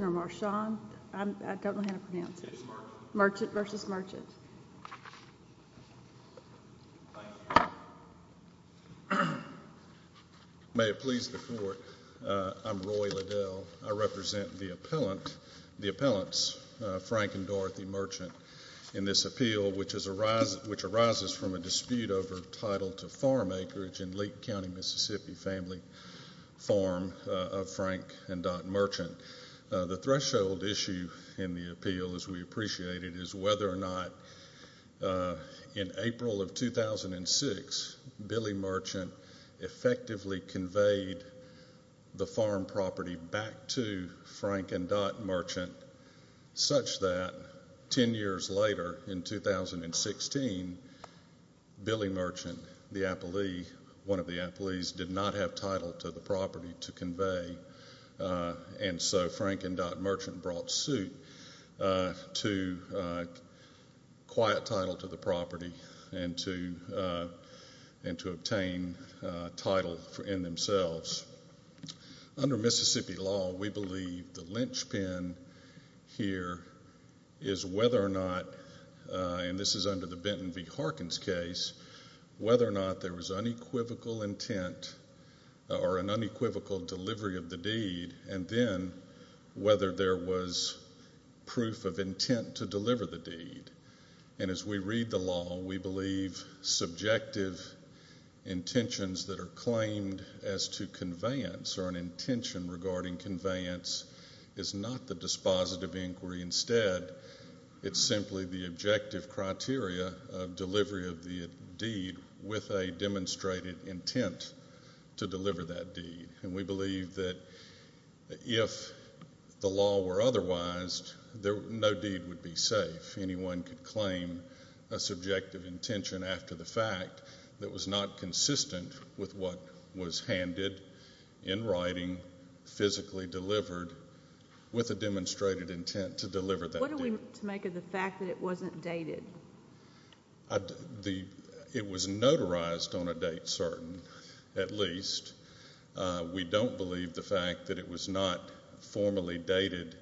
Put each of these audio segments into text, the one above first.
May it please the Court, I'm Roy Liddell. I represent the appellants, Frank and Dorothy Merchant, in this appeal which arises from a dispute over title to farm acreage in Lake The threshold issue in the appeal, as we appreciate it, is whether or not in April of 2006, Billy Merchant effectively conveyed the farm property back to Frank and Dot Merchant, such that ten years later, in 2016, Billy Merchant, the appellee, one of the appellees, did not have title to the property to convey, and so Frank and Dot Merchant brought suit to quiet title to the property and to obtain title in themselves. Under Mississippi law, we believe the linchpin here is whether or not, and this is under the Benton v. Harkins case, whether or not there was unequivocal intent or an unequivocal delivery of the deed, and then whether there was proof of intent to deliver the deed. And as we read the law, we believe subjective intentions that are claimed as to conveyance or an intention regarding conveyance is not the dispositive inquiry. Instead, it's simply the objective criteria of delivery of the deed with a demonstrated intent to deliver that deed. And we believe that if the law were otherwise, no deed would be safe. Anyone could claim a subjective intention after the fact that was not consistent with what was handed in writing, physically delivered, with a demonstrated intent to deliver that deed. What do we make of the fact that it was notarized on a date certain, at least? We don't believe the fact that it was not formally dated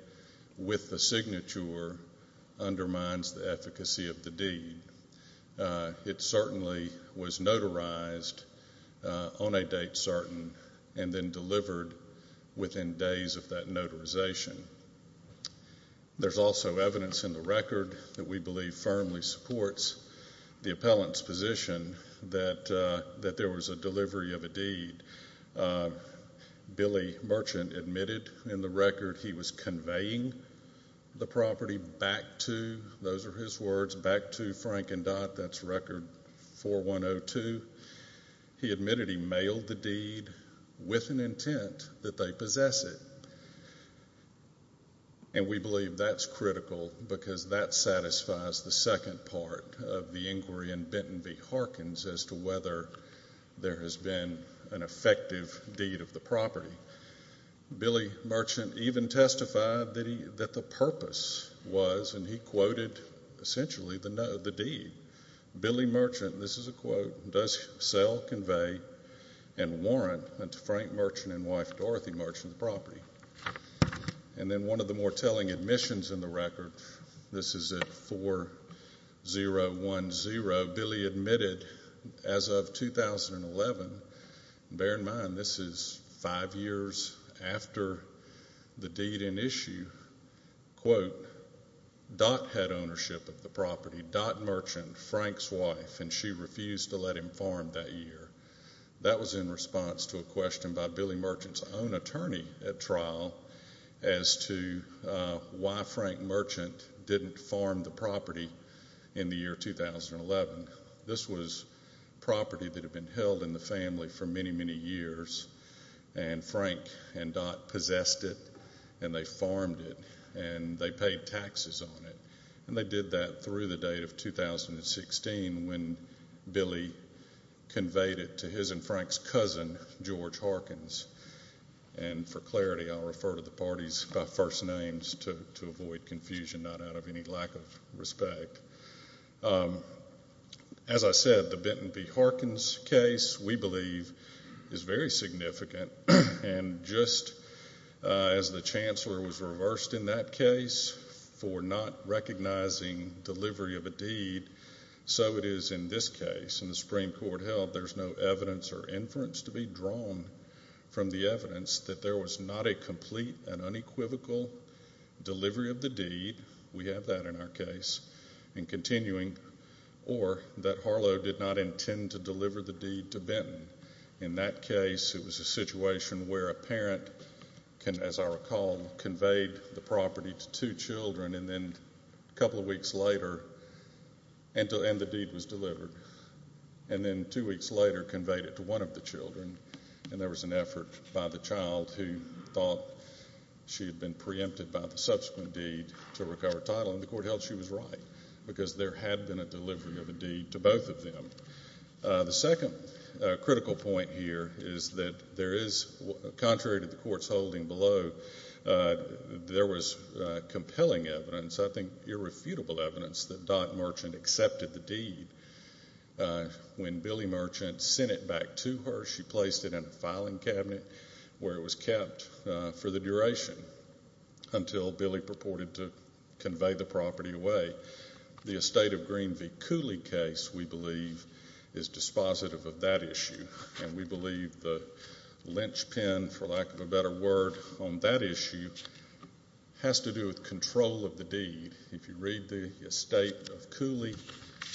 with the signature undermines the efficacy of the deed. It certainly was notarized on a date certain and then delivered within days of that notarization. There's also evidence in the record that we believe firmly supports the appellant's position that there was a delivery of a deed. Billy Merchant admitted in the record he was conveying the property back to, those are his words, back to Frankendot, that's record 4102. He admitted he mailed the deed with an intent that they possess it. And we believe that's critical because that satisfies the second part of the inquiry in Benton v. Harkins as to whether there has been an effective deed of the property. Billy Merchant even testified that the purpose was, and he quoted essentially the deed. Billy Merchant, this is a quote, does sell, convey, and warrant to Frank Merchant and wife Dorothy Merchant the property. And then one of the more telling admissions in the record, this is at 4010, Billy admitted as of 2011, bear in mind this is five years after the deed in issue, quote, Dot had ownership of the property, Dot Merchant, Frank's wife, and she refused to let him farm that year. That was in response to a question by Billy Merchant's own attorney at trial as to why Frank Merchant didn't farm the property in the five years. And Frank and Dot possessed it, and they farmed it, and they paid taxes on it. And they did that through the date of 2016 when Billy conveyed it to his and Frank's cousin, George Harkins. And for clarity, I'll refer to the parties by first names to avoid confusion, not out of any lack of respect. As I said, the Benton v. Harkins case, we believe, is very significant. And just as the chancellor was reversed in that case for not recognizing delivery of a deed, so it is in this case. In the Supreme Court held there's no evidence or inference to be we have that in our case. And continuing, or that Harlow did not intend to deliver the deed to Benton. In that case, it was a situation where a parent, as I recall, conveyed the property to two children, and then a couple of weeks later, and the deed was delivered. And then two weeks later conveyed it to one of the children, and there was an effort by the child who thought she had been to recover title. And the court held she was right, because there had been a delivery of a deed to both of them. The second critical point here is that there is, contrary to the court's holding below, there was compelling evidence, I think irrefutable evidence, that Dot Merchant accepted the deed. When Billy Merchant sent it back to her, she placed it in a filing cabinet where it was kept for the duration until Billy purported to convey the property away. The Estate of Green v. Cooley case, we believe, is dispositive of that issue, and we believe the linchpin, for lack of a better word, on that issue has to do with control of the deed. If you read the Estate of Cooley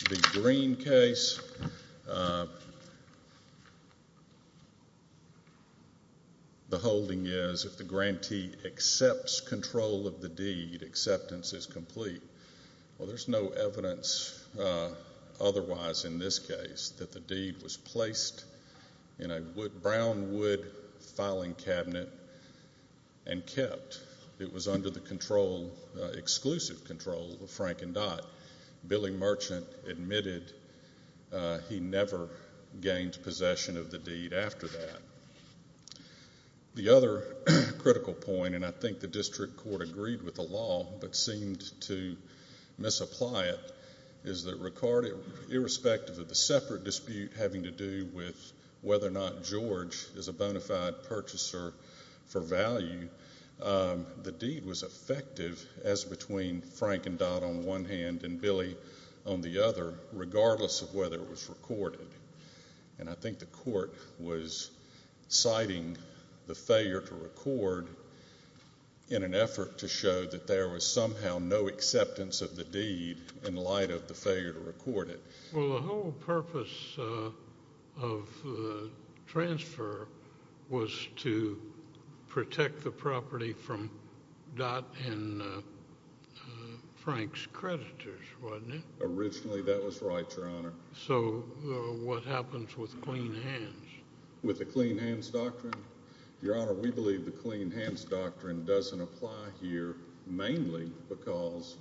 v. Green case, the holding is if the grantee accepts control of the deed, acceptance is complete. Well, there's no evidence otherwise in this case that the deed was placed in a brown wood filing cabinet and kept. It was under the exclusive control of Frank and Dot. Billy Merchant admitted he never gained possession of the deed after that. The other critical point, and I think the district court agreed with the law but seemed to misapply it, is that regardless of the separate dispute having to do with whether or not George is a bona fide purchaser for value, the deed was effective as between Frank and Dot on one hand and Billy on the other, regardless of whether it was recorded. And I think the court was citing the failure to record in an effort to show that there was somehow no acceptance of the deed in light of the failure to record it. Well, the whole purpose of the transfer was to protect the property from Dot and Frank's creditors, wasn't it? Originally, that was right, Your Honor. So what happens with clean hands? With the clean hands doctrine? Your Honor, we believe the clean hands doctrine doesn't apply here mainly because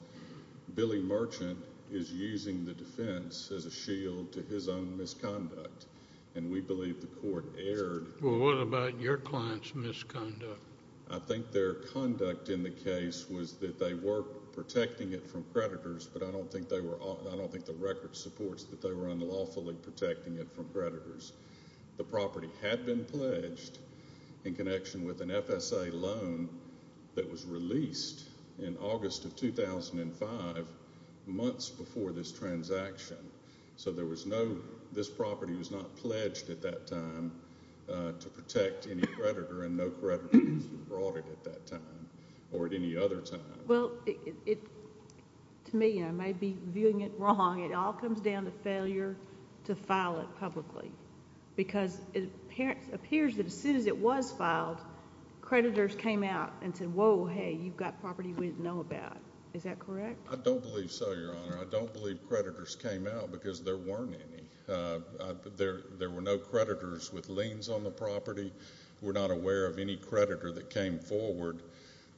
Billy Merchant is using the defense as a shield to his own misconduct. And we believe the court erred. Well, what about your client's misconduct? I think their conduct in the case was that they were protecting it from creditors, but I don't think the record supports that they were unlawfully protecting it from creditors. The property had been pledged in connection with an FSA loan that was released in August of 2005, months before this transaction. So there was no, this property was not pledged at that time to protect any creditor and no creditors brought it at that time or at any other time. Well, to me, and I may be viewing it wrong, it all comes down to failure to file it publicly. Because it appears that as soon as it was filed, creditors came out and said, whoa, hey, you've got property we didn't know about. Is that correct? I don't believe so, Your Honor. I don't believe creditors came out because there weren't any. There were no creditors with liens on the property. We're not aware of any creditor that came forward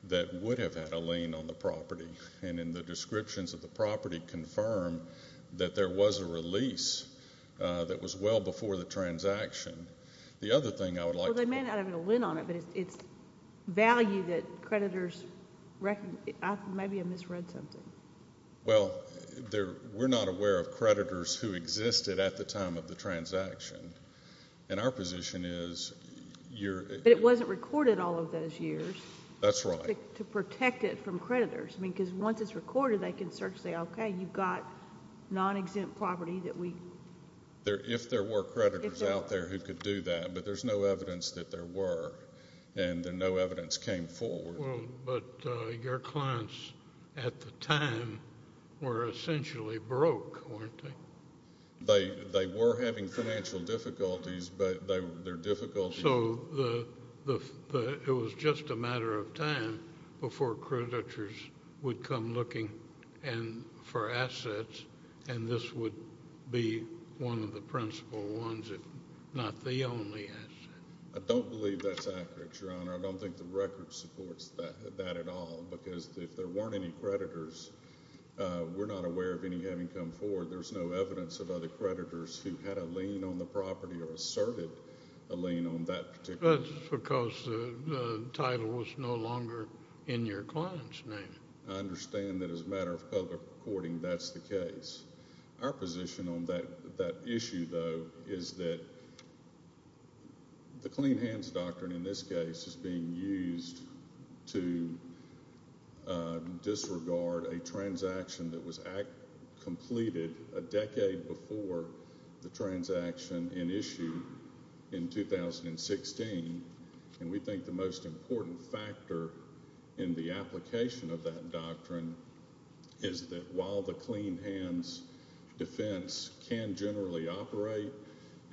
that would have had a lien on the property. And in the descriptions of the property confirm that there was a release that was well before the transaction. The other thing I would like to... Well, they may not have had a lien on it, but it's value that creditors... Maybe I misread something. Well, we're not aware of creditors who existed at the time of the transaction. And our position is you're... But it wasn't recorded all of those years. That's right. To protect it from creditors. I mean, because once it's recorded, they can start to say, okay, you've got non-exempt property that we... If there were creditors out there who could do that. But there's no evidence that there were. And no evidence came forward. Well, but your clients at the time were essentially broke, weren't they? They were having financial difficulties, but their difficulties... So it was just a matter of time before creditors would come looking for assets, and this would be one of the principal ones, if not the only asset. I don't believe that's accurate, Your Honor. I don't think the record supports that at all, because if there weren't any creditors, we're not aware of any having come forward. There's no evidence of other creditors who had a lien on the property or asserted a lien on that particular... That's because the title was no longer in your client's name. I understand that as a matter of public reporting, that's the case. Our position on that issue, though, is that the clean hands doctrine in this case is being used to disregard a transaction that was completed a decade before the transaction in issue in 2016. And we think the most important factor in the application of that doctrine is that while the clean hands defense can generally operate,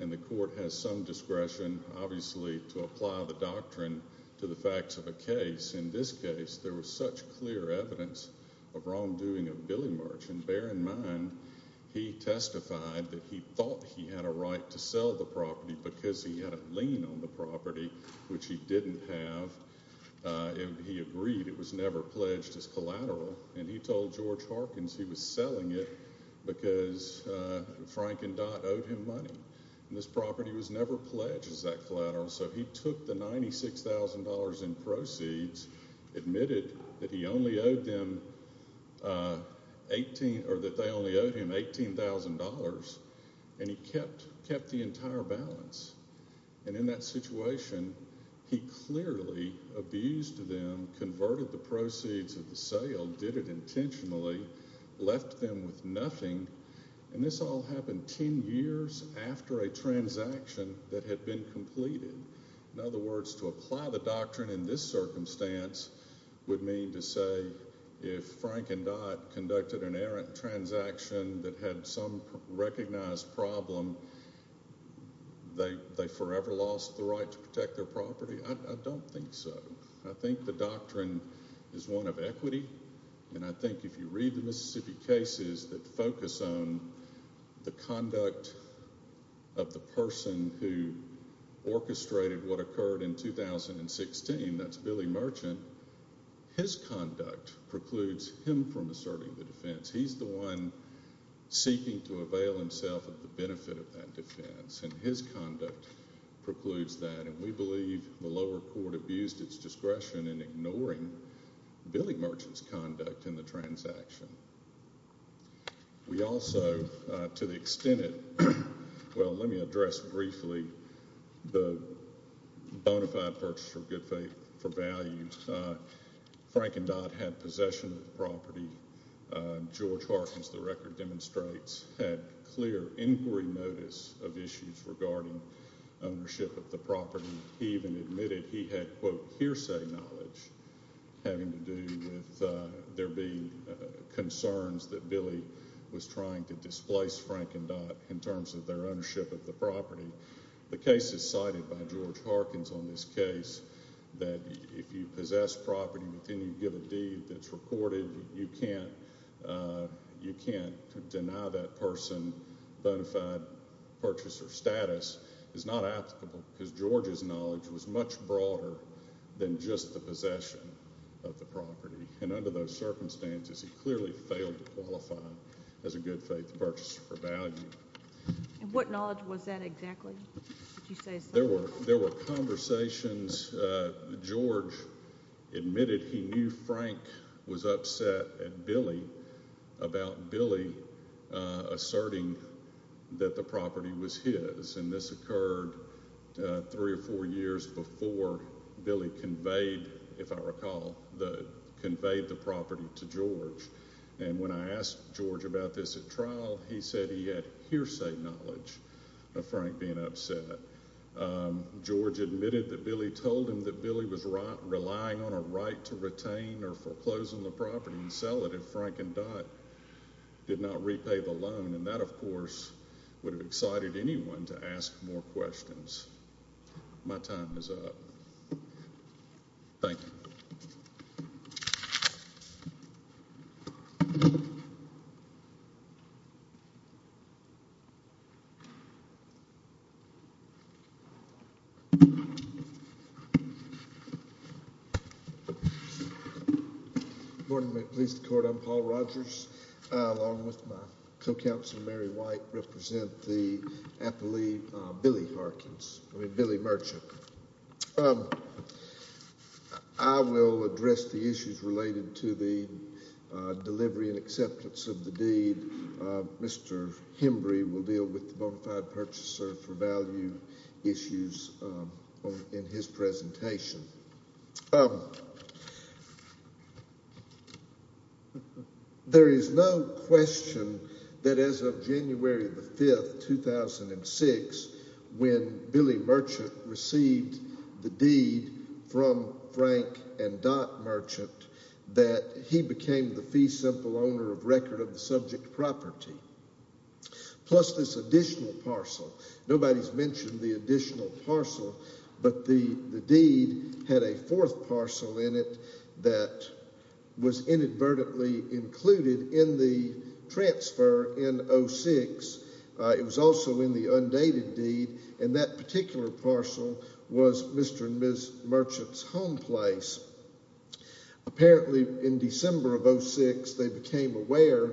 and the court has some discretion, obviously, to apply the doctrine to the facts of a case, in this case, there was such clear evidence of wrongdoing of Billy Merchant. Bear in mind, he testified that he thought he had a right to sell the property because he had a lien on the property, which he didn't have, and he agreed it was never pledged as collateral. And he told George Harkins he was selling it because Frank and Dot owed him money. And this property was never pledged as that collateral, so he took the $96,000 in proceeds, admitted that he only owed them $18,000, and he kept the entire balance. And in that situation, he clearly abused them, converted the proceeds of the sale, did it intentionally, left them with nothing, and this all happened 10 years after a transaction that had been completed. In other words, to apply the doctrine in this circumstance would mean to say if Frank and Dot conducted an errant transaction that had some recognized problem, they forever lost the right to protect their property? I don't think so. I think the doctrine is one of equity, and I think if you read the Mississippi cases that focus on the conduct of the person who orchestrated what happened in 2016, that's Billy Merchant, his conduct precludes him from asserting the defense. He's the one seeking to avail himself of the benefit of that defense, and his conduct precludes that. And we believe the lower court abused its discretion in ignoring Billy Merchant's conduct in the transaction. We also, to the extent it—well, let me address briefly the bona fide purchase for good faith for value. Frank and Dot had possession of the property. George Harkins, the record demonstrates, had clear inquiry notice of issues regarding ownership of the property. He even admitted he had, quote, hearsay knowledge having to do with there being concerns that Billy was trying to displace Frank and Dot in terms of their ownership of the property. The case is cited by George Harkins on this case that if you possess property but then you give a deed that's recorded, you can't deny that person bona fide purchaser status. It's not applicable because George's knowledge was much broader than just the possession of the property, and under those circumstances, he clearly failed to qualify as a good faith purchaser for the property. There were conversations. George admitted he knew Frank was upset at Billy about Billy asserting that the property was his, and this occurred three or four years before Billy conveyed, if I recall, conveyed the property to George. And when I asked George about this at Frank being upset, George admitted that Billy told him that Billy was relying on a right to retain or foreclose on the property and sell it if Frank and Dot did not repay the loan, and that, of course, would have excited anyone to ask more questions. My time is up. Thank you. I'm Paul Rogers, along with my co-counsel Mary White, represent the appellee Billy Harkins, I mean Billy Merchant. I will address the issues related to the delivery and acceptance of the deed. Mr. Hembree will deal with the bona fide purchaser for value issues in his presentation. There is no question that as of January the 5th, 2006, when Billy Merchant received the deed from Frank and Dot Merchant, that he became the fee simple owner of record of the subject property, plus this additional parcel. Nobody's mentioned the additional parcel, but the deed had a fourth parcel in it that was inadvertently included in the transfer in 06. It was also in the undated deed, and that particular parcel was Mr. and Ms. Merchant's home place. Apparently in December of 06, they became aware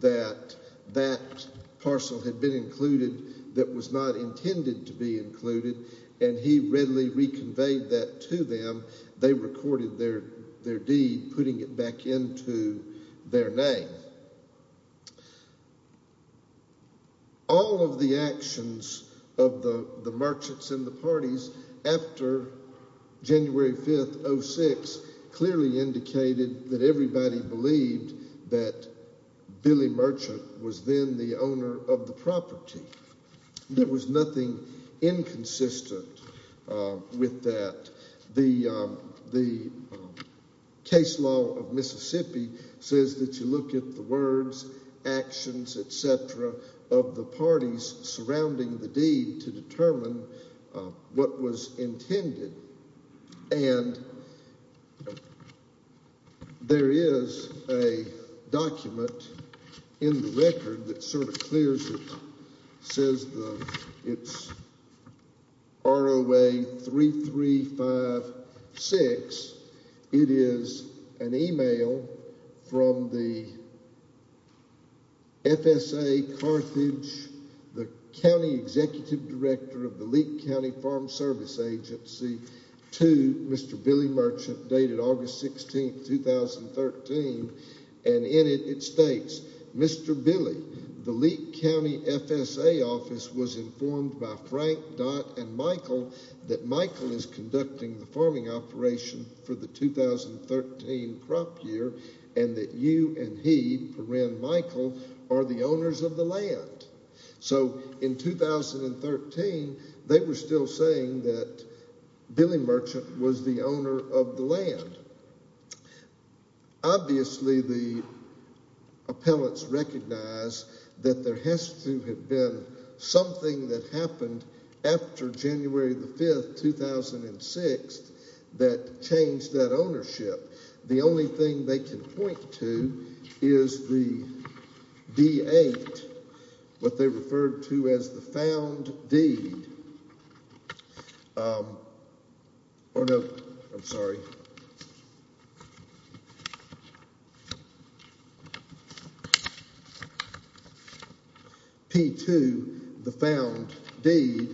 that that parcel had been included that was not intended to be included, and he readily reconveyed that to them. They recorded their deed, putting it back into their name. All of the actions of the Merchants and the parties after January 5th, 06 clearly indicated that everybody believed that Billy Merchant was then the owner of the property. There was nothing inconsistent with that. The case law of Mississippi says that you look at the words, actions, etc., of the parties surrounding the deed to determine what was intended, and there is a document in the record that sort of clears it. It says it's ROA 3356. It is an email from the FSA Carthage, the County Executive Director of the Leek County Farm Service Agency, to Mr. Billy Merchant dated August 16, 2013, and in it, it states, Mr. Billy, the Leek County FSA office was informed by Frank, Dot, and Michael that Michael is conducting the farming operation for the 2013 crop year and that you and he, Perrin Michael, are the owners of the land. So, in 2013, they were still saying that Billy Merchant was the owner of the land. Obviously, the appellants recognized that there has to have been something that happened after January 5th, 2006, that changed that ownership. The only thing they can point to is the D8, what they referred to as the found deed, or no, I'm sorry, P2, the found deed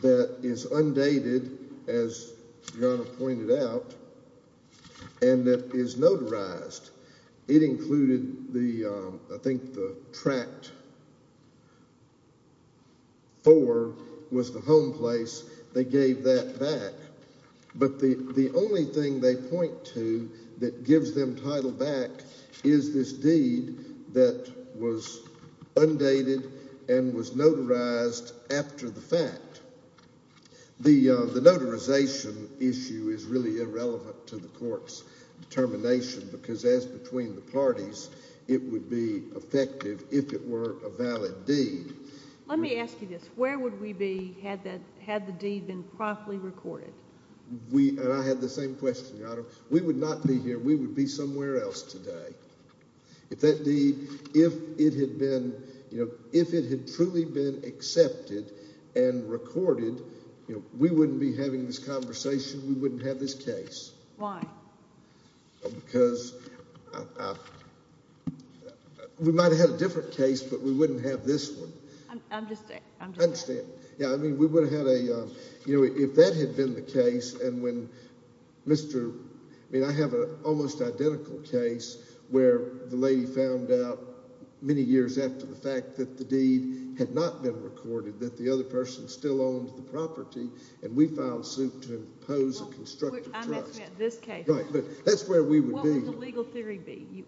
that is undated, as Your Honor pointed out, and that is notarized. It included, I think, the tract 4 was the home place. They gave that back, but the only thing they point to that gives them title back is this deed that was undated and was notarized after the fact. The notarization issue is really irrelevant to the court's determination because, as between the parties, it would be effective if it were a valid deed. Let me ask you this. Where would we be had the deed been properly recorded? We, and I had the same question, Your Honor. We would not be here. We would be somewhere else today. If that deed, if it had been, you know, if it had truly been we wouldn't have this case. Why? Because we might have had a different case, but we wouldn't have this one. I understand. Yeah, I mean, we would have had a, you know, if that had been the case and when Mr., I mean, I have an almost identical case where the lady found out many years after the fact that the deed had not been recorded that the other person still owned the property and we filed suit to impose a constructive trust. I meant this case. Right, but that's where we would be. What would the legal theory be?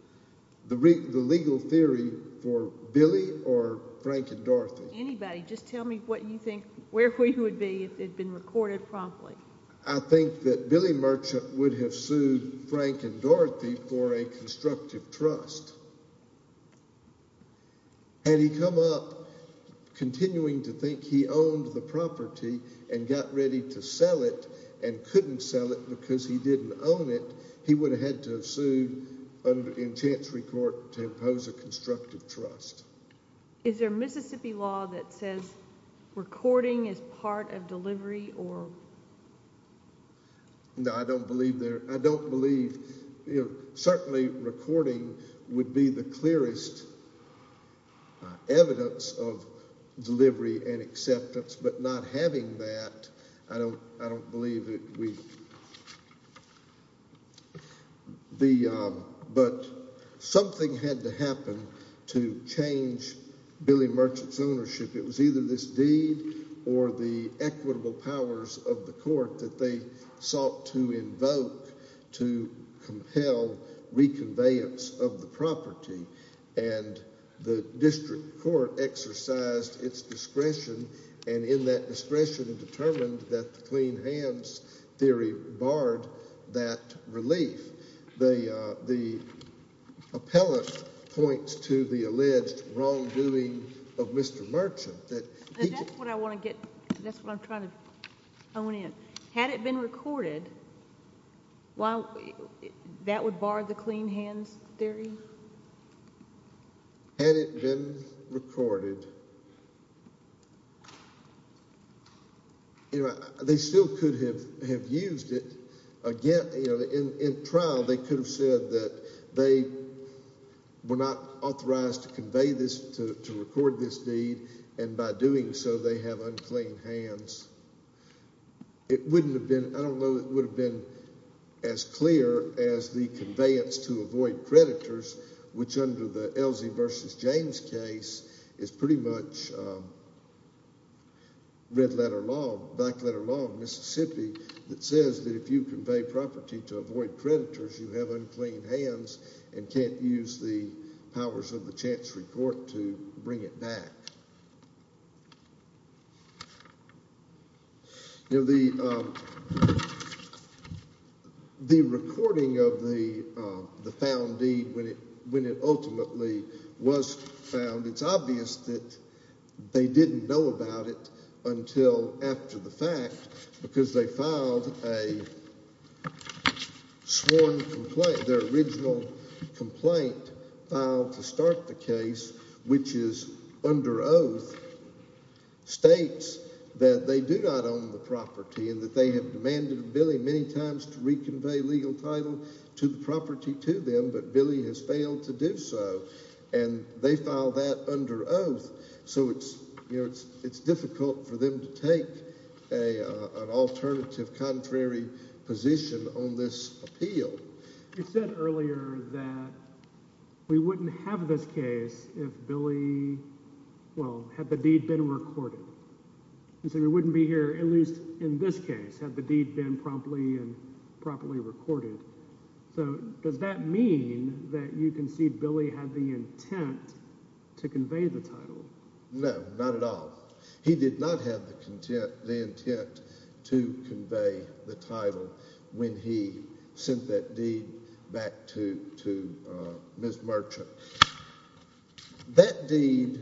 The legal theory for Billy or Frank and Dorothy. Anybody, just tell me what you think, where we would be if it had been recorded promptly. I think that Billy Merchant would have sued Frank and Dorothy for a constructive trust and he come up continuing to think he owned the property and got ready to sell it and couldn't sell it because he didn't own it. He would have had to have sued in Chancery Court to impose a constructive trust. Is there Mississippi law that says recording is part of delivery or? No, I don't believe there, I don't believe, certainly recording would be the clearest evidence of delivery and acceptance, but not having that, I don't, I don't believe that we, the, but something had to happen to change Billy Merchant's ownership. It was either this deed or the equitable powers of the court that they sought to invoke to compel reconveyance of the property and the district court exercised its discretion and in that discretion determined that the clean hands theory barred that relief. The, the appellate points to the alleged wrongdoing of Mr. Merchant. That's what I want to get, that's what I'm trying to hone in. Had it been recorded, why, that would bar the clean hands theory? Had it been recorded, you know, they still could have have used it again, you know, in trial they could have said that they were not authorized to convey this, to record this deed and by doing so they have unclean hands. It wouldn't have been, I don't know it would have been as clear as the conveyance to avoid creditors, which under the Elsie versus James case is pretty much red letter law, black letter law of Mississippi that says that if you convey property to avoid creditors you have unclean hands and can't use the powers of the chance report to bring it back. You know, the, the recording of the, the found deed when it, when it ultimately was found, it's obvious that they didn't know about it until after the fact because they filed a their original complaint filed to start the case, which is under oath, states that they do not own the property and that they have demanded of Billy many times to reconvey legal title to the property to them, but Billy has failed to do so and they filed that under oath. So it's, you know, it's, it's difficult for them to take a, an alternative contrary position on this appeal. You said earlier that we wouldn't have this case if Billy, well, had the deed been recorded and so we wouldn't be here, at least in this case, had the deed been promptly and properly recorded. So does that mean that you concede Billy had the when he sent that deed back to, to Ms. Merchant? That deed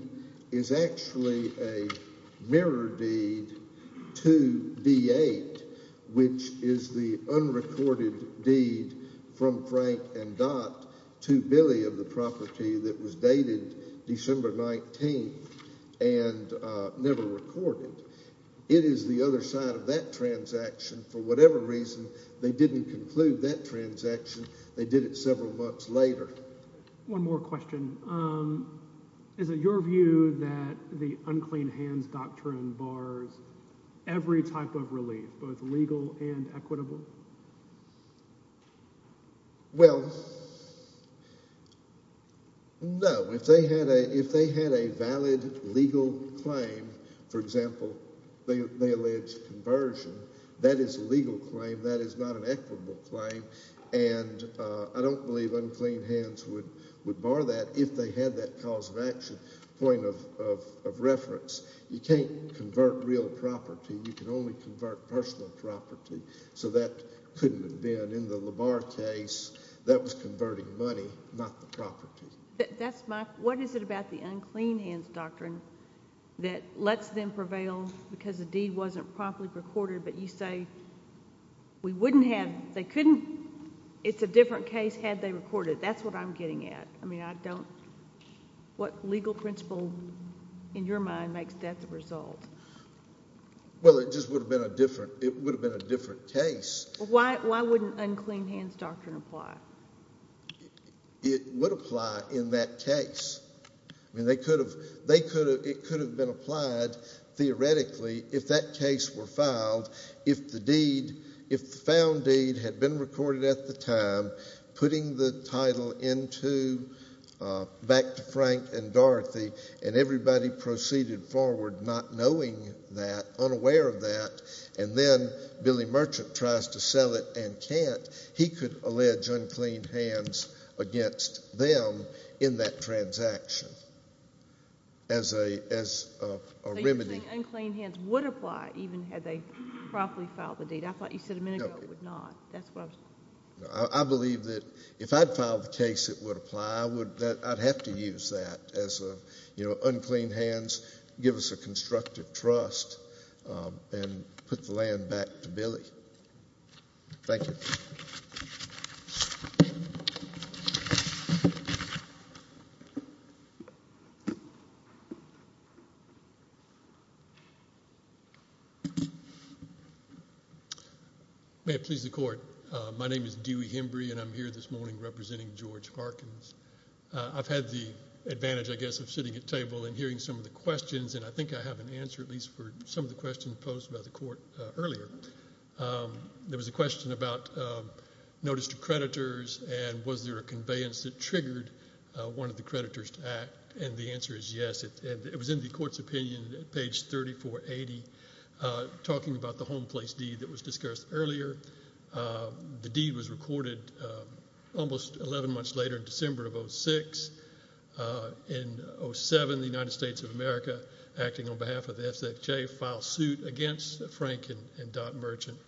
is actually a mirror deed to D8, which is the unrecorded deed from Frank and Dot to Billy of the property that was dated December 19th and never recorded. It is the other side of that transaction. For whatever reason, they didn't conclude that transaction. They did it several months later. One more question. Is it your view that the unclean hands doctrine bars every type of relief, both legal and equitable? Well, no. If they had a, if they had a valid legal claim, for example, they, they allege conversion. That is a legal claim. That is not an equitable claim and I don't believe unclean hands would, would bar that if they had that cause of action point of, of, of reference. You can't convert real property. You can only convert personal property. So that's, that's couldn't have been in the LeBar case. That was converting money, not the property. That's my, what is it about the unclean hands doctrine that lets them prevail because the deed wasn't properly recorded, but you say we wouldn't have, they couldn't, it's a different case had they recorded it. That's what I'm getting at. I mean, I don't, what legal principle in your mind makes that the result? Well, it just would have been a different, it would have been a different case. Why, why wouldn't unclean hands doctrine apply? It would apply in that case. I mean, they could have, they could have, it could have been applied theoretically if that case were filed. If the deed, if the found deed had been recorded at the time, putting the title into back to Frank and Dorothy and everybody proceeded forward not knowing that, unaware of that, and then Billy Merchant tries to sell it and can't, he could allege unclean hands against them in that transaction as a, as a remedy. So you're saying unclean hands would apply even had they properly filed the deed? I thought you said a minute ago it would not. That's what I was. I believe that if I'd filed the case, it would apply. I would, I'd have to use that as a, you know, unclean hands, give us a constructive trust, and put the land back to Billy. Thank you. May it please the court. My name is Dewey Hembree and I'm here this morning representing George Harkins. I've had the advantage, I guess, of sitting at table and hearing some of the questions, and I think I have an answer at least for some of the questions posed by the court earlier. There was a question about notice to creditors and was there a conveyance that triggered one of the creditors to act, and the answer is yes. It was in the court's opinion, page 3480, talking about the home place deed that was discussed earlier. The deed was recorded almost 11 months later, in December of 06. In 07, the United States of America, acting on behalf of the SFJ, filed suit against Franken and Dot Merchant,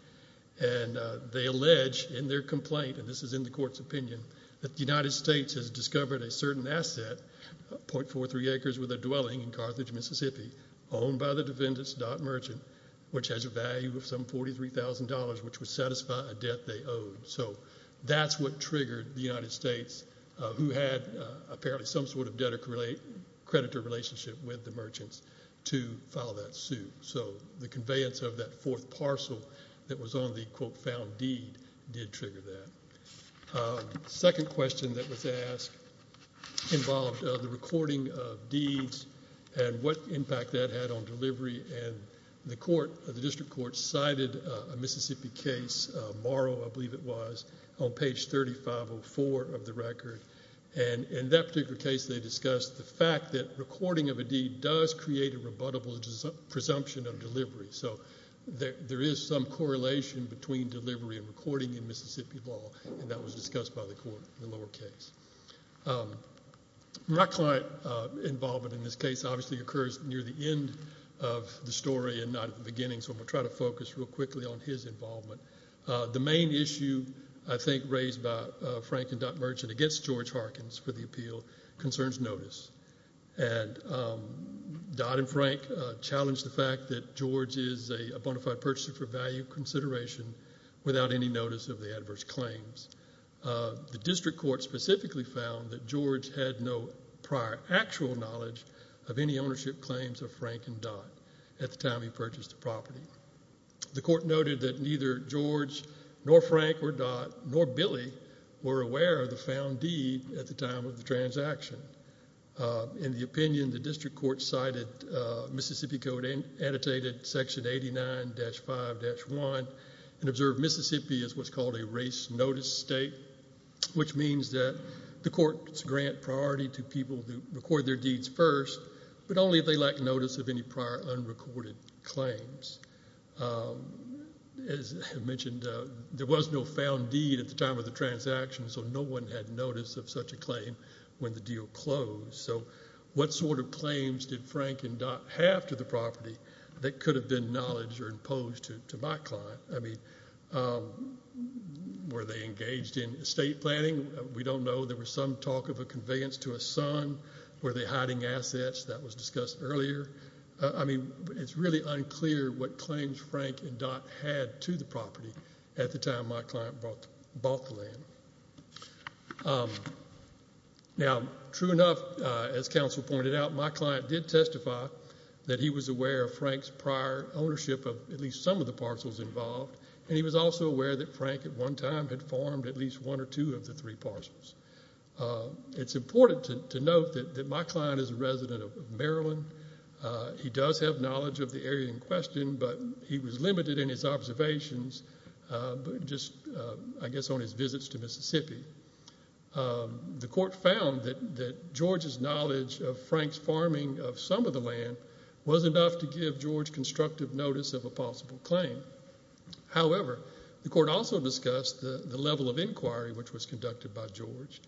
and they allege in their complaint, and this is in the court's opinion, that the United States has discovered a certain asset, 0.43 acres with a dwelling in Carthage, Mississippi, owned by the defendants, Dot Merchant, which has a value of some $43,000, which would satisfy a debt they owed. So that's what triggered the United States, who had apparently some sort of debtor-creditor relationship with the merchants, to file that suit. So the conveyance of that fourth parcel that was on the, quote, found deed did trigger that. The second question that was asked involved the recording of deeds and what impact that had on delivery, and the court, the district court, cited a Mississippi case, Morrow, I believe it was, on page 3504 of the record, and in that particular case, they discussed the fact that recording of a deed does create a rebuttable presumption of delivery. So there is some correlation between delivery and recording in Mississippi law, and that was discussed by the court in the lower case. My client involvement in this case obviously occurs near the end of the story and not at the beginning, so I'm going to try to focus real quickly on his involvement. The main issue, I think, raised by Frank and Dot Merchant against George Harkins for the appeal concerns notice, and Dot and Frank challenged the fact that George is a bona fide purchaser for value consideration without any notice of the adverse claims. The district court specifically found that George had no prior actual knowledge of any ownership claims of Frank and Dot at the time he purchased the property. The court noted that neither George nor Frank or Dot nor Billy were aware of the found deed at the time of the transaction. In the opinion, the district court cited Mississippi Code annotated section 89-5-1 and observed Mississippi as what's called a race notice state, which means that the courts grant priority to people who record their deeds first, but only if notice of any prior unrecorded claims. As I mentioned, there was no found deed at the time of the transaction, so no one had notice of such a claim when the deal closed. So what sort of claims did Frank and Dot have to the property that could have been knowledge or imposed to my client? I mean, were they engaged in estate planning? We don't know. There was some talk of a conveyance to a son. Were they hiding assets? That was discussed earlier. I mean, it's really unclear what claims Frank and Dot had to the property at the time my client bought the land. Now, true enough, as counsel pointed out, my client did testify that he was aware of Frank's prior ownership of at least some of the parcels involved, and he was also aware that Frank at one had farmed at least one or two of the three parcels. It's important to note that my client is a resident of Maryland. He does have knowledge of the area in question, but he was limited in his observations just, I guess, on his visits to Mississippi. The court found that George's knowledge of Frank's farming of some of the land was enough to give George constructive notice of possible claim. However, the court also discussed the level of inquiry which was conducted by George.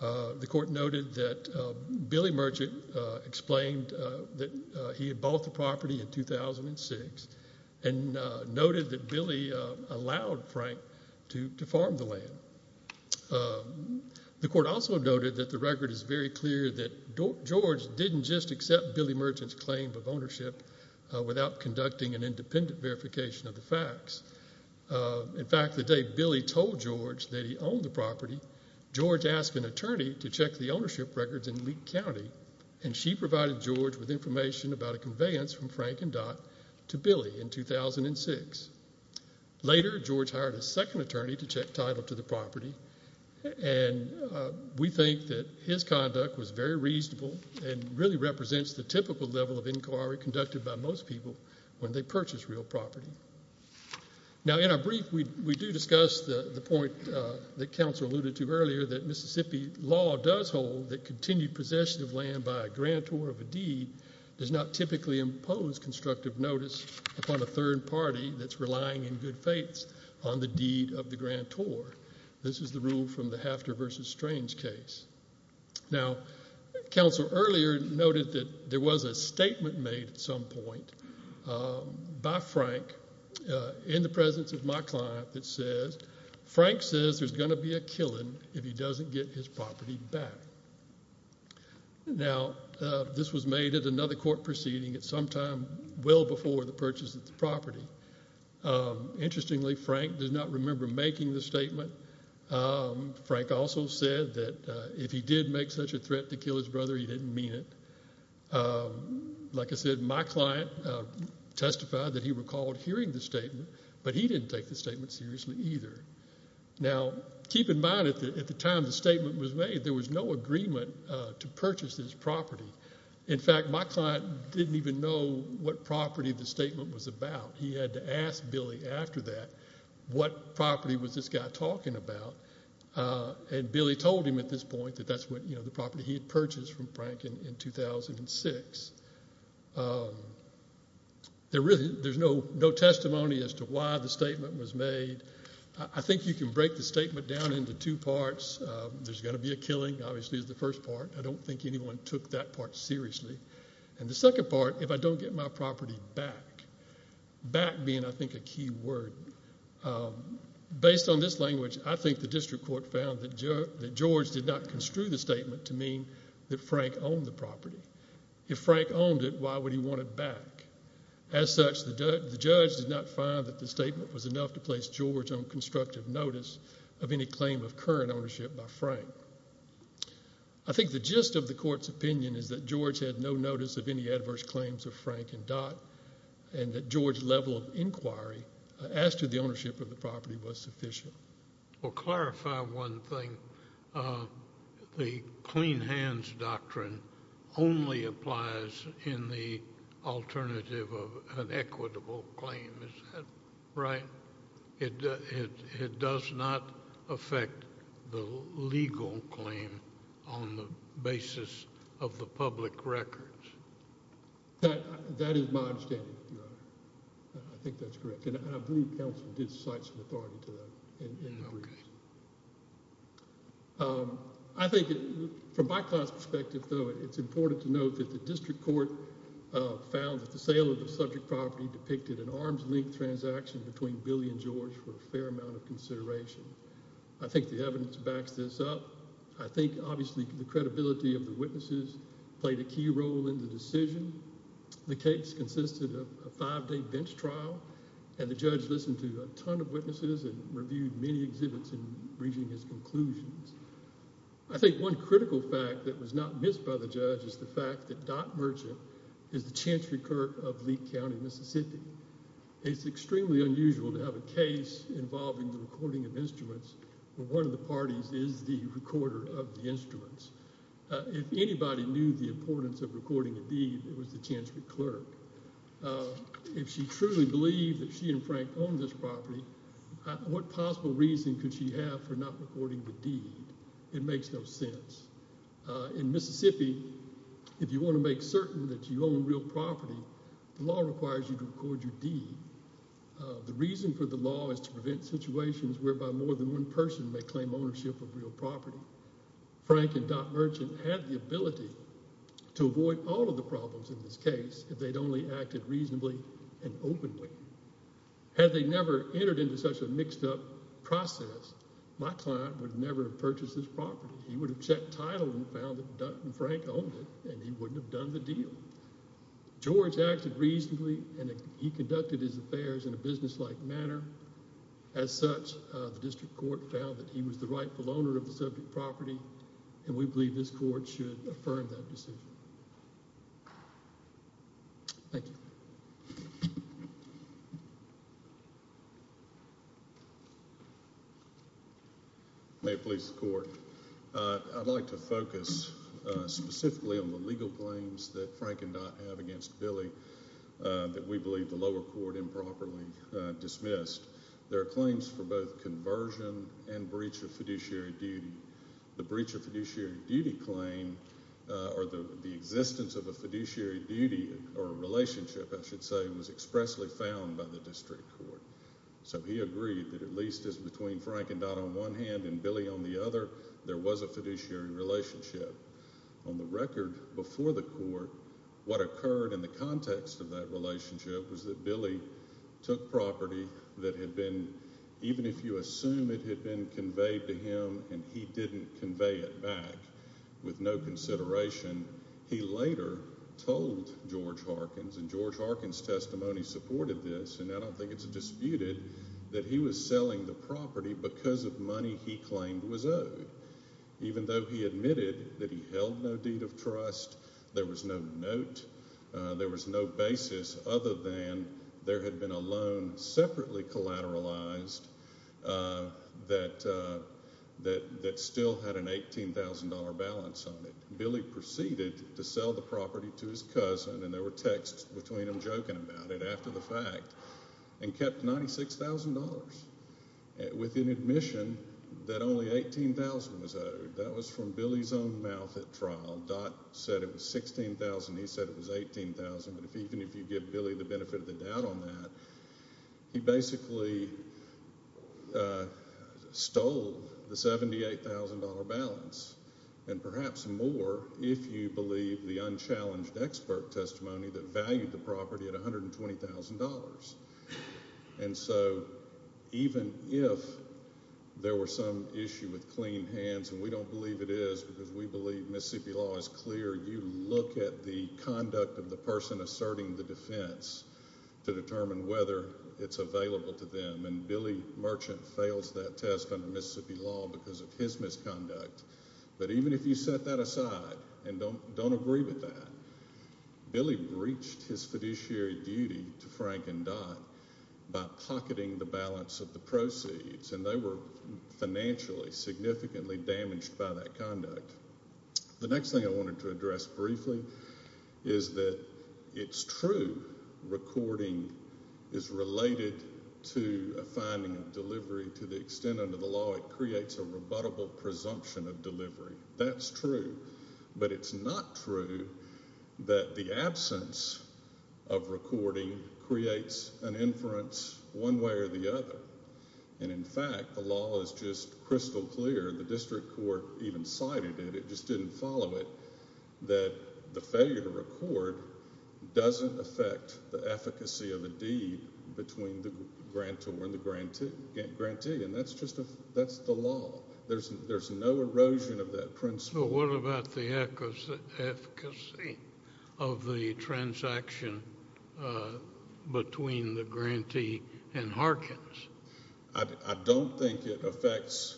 The court noted that Billy Merchant explained that he had bought the property in 2006 and noted that Billy allowed Frank to farm the land. The court also noted that the record is very clear that George didn't just accept Billy Merchant's claim of ownership without conducting an independent verification of the facts. In fact, the day Billy told George that he owned the property, George asked an attorney to check the ownership records in Leek County, and she provided George with information about a conveyance from Frank and Dot to Billy in 2006. Later, George hired a second attorney to check title to the property, and we think that his conduct was very reasonable and really represents the typical level of inquiry conducted by most people when they purchase real property. Now, in our brief, we do discuss the point that Council alluded to earlier that Mississippi law does hold that continued possession of land by a grantor of a deed does not typically impose constructive notice upon a third party that's relying in good faiths on the deed of the grantor. This is the rule from the Hafter v. Strange case. Now, Council earlier noted that there was a statement made at some point by Frank in the presence of my client that says, Frank says there's going to be a killing if he doesn't get his property back. Now, this was made at another court proceeding at some time well before the purchase of the property. Interestingly, Frank does not remember making the statement. Frank also said that if he did make such a threat to kill his brother, he didn't mean it. Like I said, my client testified that he recalled hearing the statement, but he didn't take the statement seriously either. Now, keep in mind that at the time the statement was made, there was no agreement to purchase this property. In fact, my client didn't even know what property the statement was about. He had to ask Billy after that what property was this guy talking about, and Billy told him at this point that that's what, you know, the property he had purchased from Frank in 2006. There really there's no testimony as to why the statement was made. I think you can break the statement down into two parts. There's going to be a killing, obviously, is the first part. I don't think anyone took that part seriously. And the second part, if I don't get my property back, back being, I think, a key word. Based on this language, I think the district court found that George did not construe the statement to mean that Frank owned the property. If Frank owned it, why would he want it back? As such, the judge did not find that the statement was enough to place George on constructive notice of any claim of current ownership by Frank. I think the gist of the court's opinion is that George had no notice of adverse claims of Frank and Dot, and that George's level of inquiry as to the ownership of the property was sufficient. Well, clarify one thing. The clean hands doctrine only applies in the alternative of an equitable claim. Is that right? It does not affect the legal claim on the basis of the public records. That is my understanding, Your Honor. I think that's correct, and I believe counsel did cite some authority to that in the briefs. I think, from my class perspective, though, it's important to note that the district court found that the sale of the subject property depicted an arms-linked transaction between Billy and George for a fair amount of consideration. I think the evidence backs this up. I think, obviously, the credibility of the witnesses played a key role in the decision. The case consisted of a five-day bench trial, and the judge listened to a ton of witnesses and reviewed many exhibits in reaching his conclusions. I think one critical fact that was not missed by the judge is the fact that Dot Merchant is the chantry clerk of Leek County, Mississippi. It's extremely unusual to have a case involving the recording of instruments where one of the parties is the recorder of the instruments. If anybody knew the importance of recording a deed, it was the chantry clerk. If she truly believed that she and Frank owned this property, what possible reason could she have for not recording the deed? It makes no sense. In Mississippi, if you want to make certain that you own real property, the law requires you to record your deed. The reason for the law is to prevent situations whereby more than one person may claim ownership of real property. Frank and Dot Merchant had the ability to avoid all of the problems in this case if they'd only acted reasonably and openly. Had they never entered into such a mixed-up process, my client would never have purchased this property. He would have checked title and found that Frank owned it, and he wouldn't have done the deal. George acted reasonably, and he conducted his affairs in a businesslike manner. As such, the district court found that he was the rightful owner of the subject property, and we believe this court should affirm that decision. Thank you. May it please the court. I'd like to focus specifically on the legal claims that Frank and Dot have against Billy that we believe the lower court improperly dismissed. There are claims for both conversion and breach of fiduciary duty. The breach of fiduciary duty or the existence of a fiduciary duty or relationship, I should say, was expressly found by the district court. So he agreed that at least as between Frank and Dot on one hand and Billy on the other, there was a fiduciary relationship. On the record before the court, what occurred in the context of that relationship was that Billy took property that had been, even if you assume it had been conveyed to him and he didn't convey it back with no consideration, he later told George Harkins, and George Harkins' testimony supported this, and I don't think it's disputed, that he was selling the property because of money he claimed was owed. Even though he admitted that he held no deed of trust, there was no note, there was no basis other than there had been a loan separately collateralized that still had an $18,000 balance on it. Billy proceeded to sell the property to his cousin, and there were texts between them joking about it after the fact, and kept $96,000 with an admission that only $18,000 was owed. That was from Billy's own mouth at trial. Dot said it was $16,000, he said it was $18,000, but even if you give Billy the benefit of the doubt on that, he basically stole the $78,000 balance, and perhaps more if you believe the unchallenged expert testimony that valued the property at $120,000. Even if there were some issue with clean hands, and we don't believe it is because we believe Mississippi law is clear, you look at the asserting the defense to determine whether it is available to them, and Billy Merchant fails that test under Mississippi law because of his misconduct, but even if you set that aside, and don't agree with that, Billy breached his fiduciary duty to Frank and Dot by pocketing the balance of the proceeds, and they were financially significantly damaged by that conduct. The next thing I wanted to address briefly is that it's true recording is related to a finding of delivery to the extent under the law it creates a rebuttable presumption of delivery. That's true, but it's not true that the absence of recording creates an inference one way or the other, and in fact, the law is just crystal clear. The district court even cited it. It just didn't follow it that the failure to record doesn't affect the efficacy of the deed between the grantor and the grantee, and that's just the law. There's no erosion of that principle. What about the efficacy of the transaction between the grantee and Harkins? I don't think it affects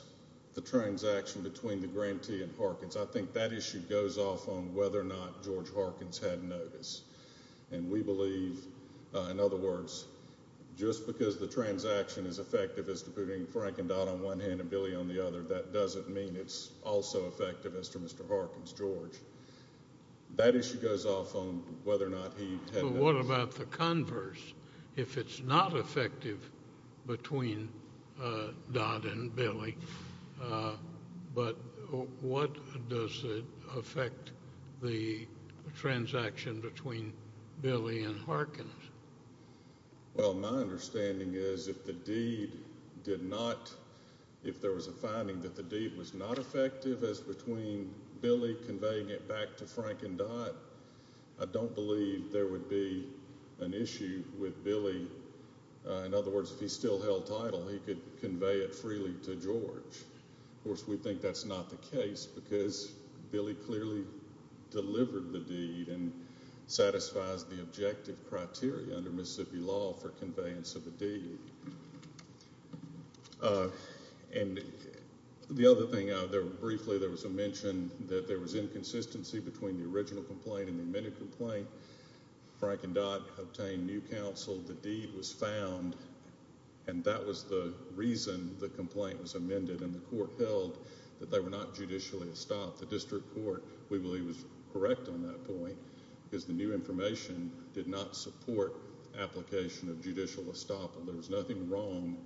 the transaction between the grantee and Harkins. I think that issue goes off on whether or not George Harkins had notice, and we believe, in other words, just because the transaction is effective as to putting Frank and Dot on one hand and Billy on the other, that doesn't mean it's also effective as to Mr. Harkins, George. That issue goes off on whether or not he had notice. What about the converse? If it's not effective between Dot and Billy, but what does it affect the transaction between Billy and Harkins? Well, my understanding is if there was a finding that the deed was not effective as between Billy conveying it back to Frank and Dot, I don't believe there would be an issue with Billy. In other words, if he still held title, he could convey it freely to George. Of course, we think that's not the case because Billy clearly delivered the deed and under Mississippi law for conveyance of a deed. The other thing, briefly, there was a mention that there was inconsistency between the original complaint and the amended complaint. Frank and Dot obtained new counsel. The deed was found, and that was the reason the complaint was amended and the court held that they were not judicially estopped. The district court, we believe, was correct on that point because the new information did not support application of judicial estoppel. There was nothing wrong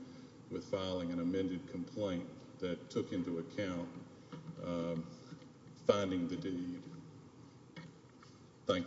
with filing an amended complaint that took into account finding the deed. Thank you.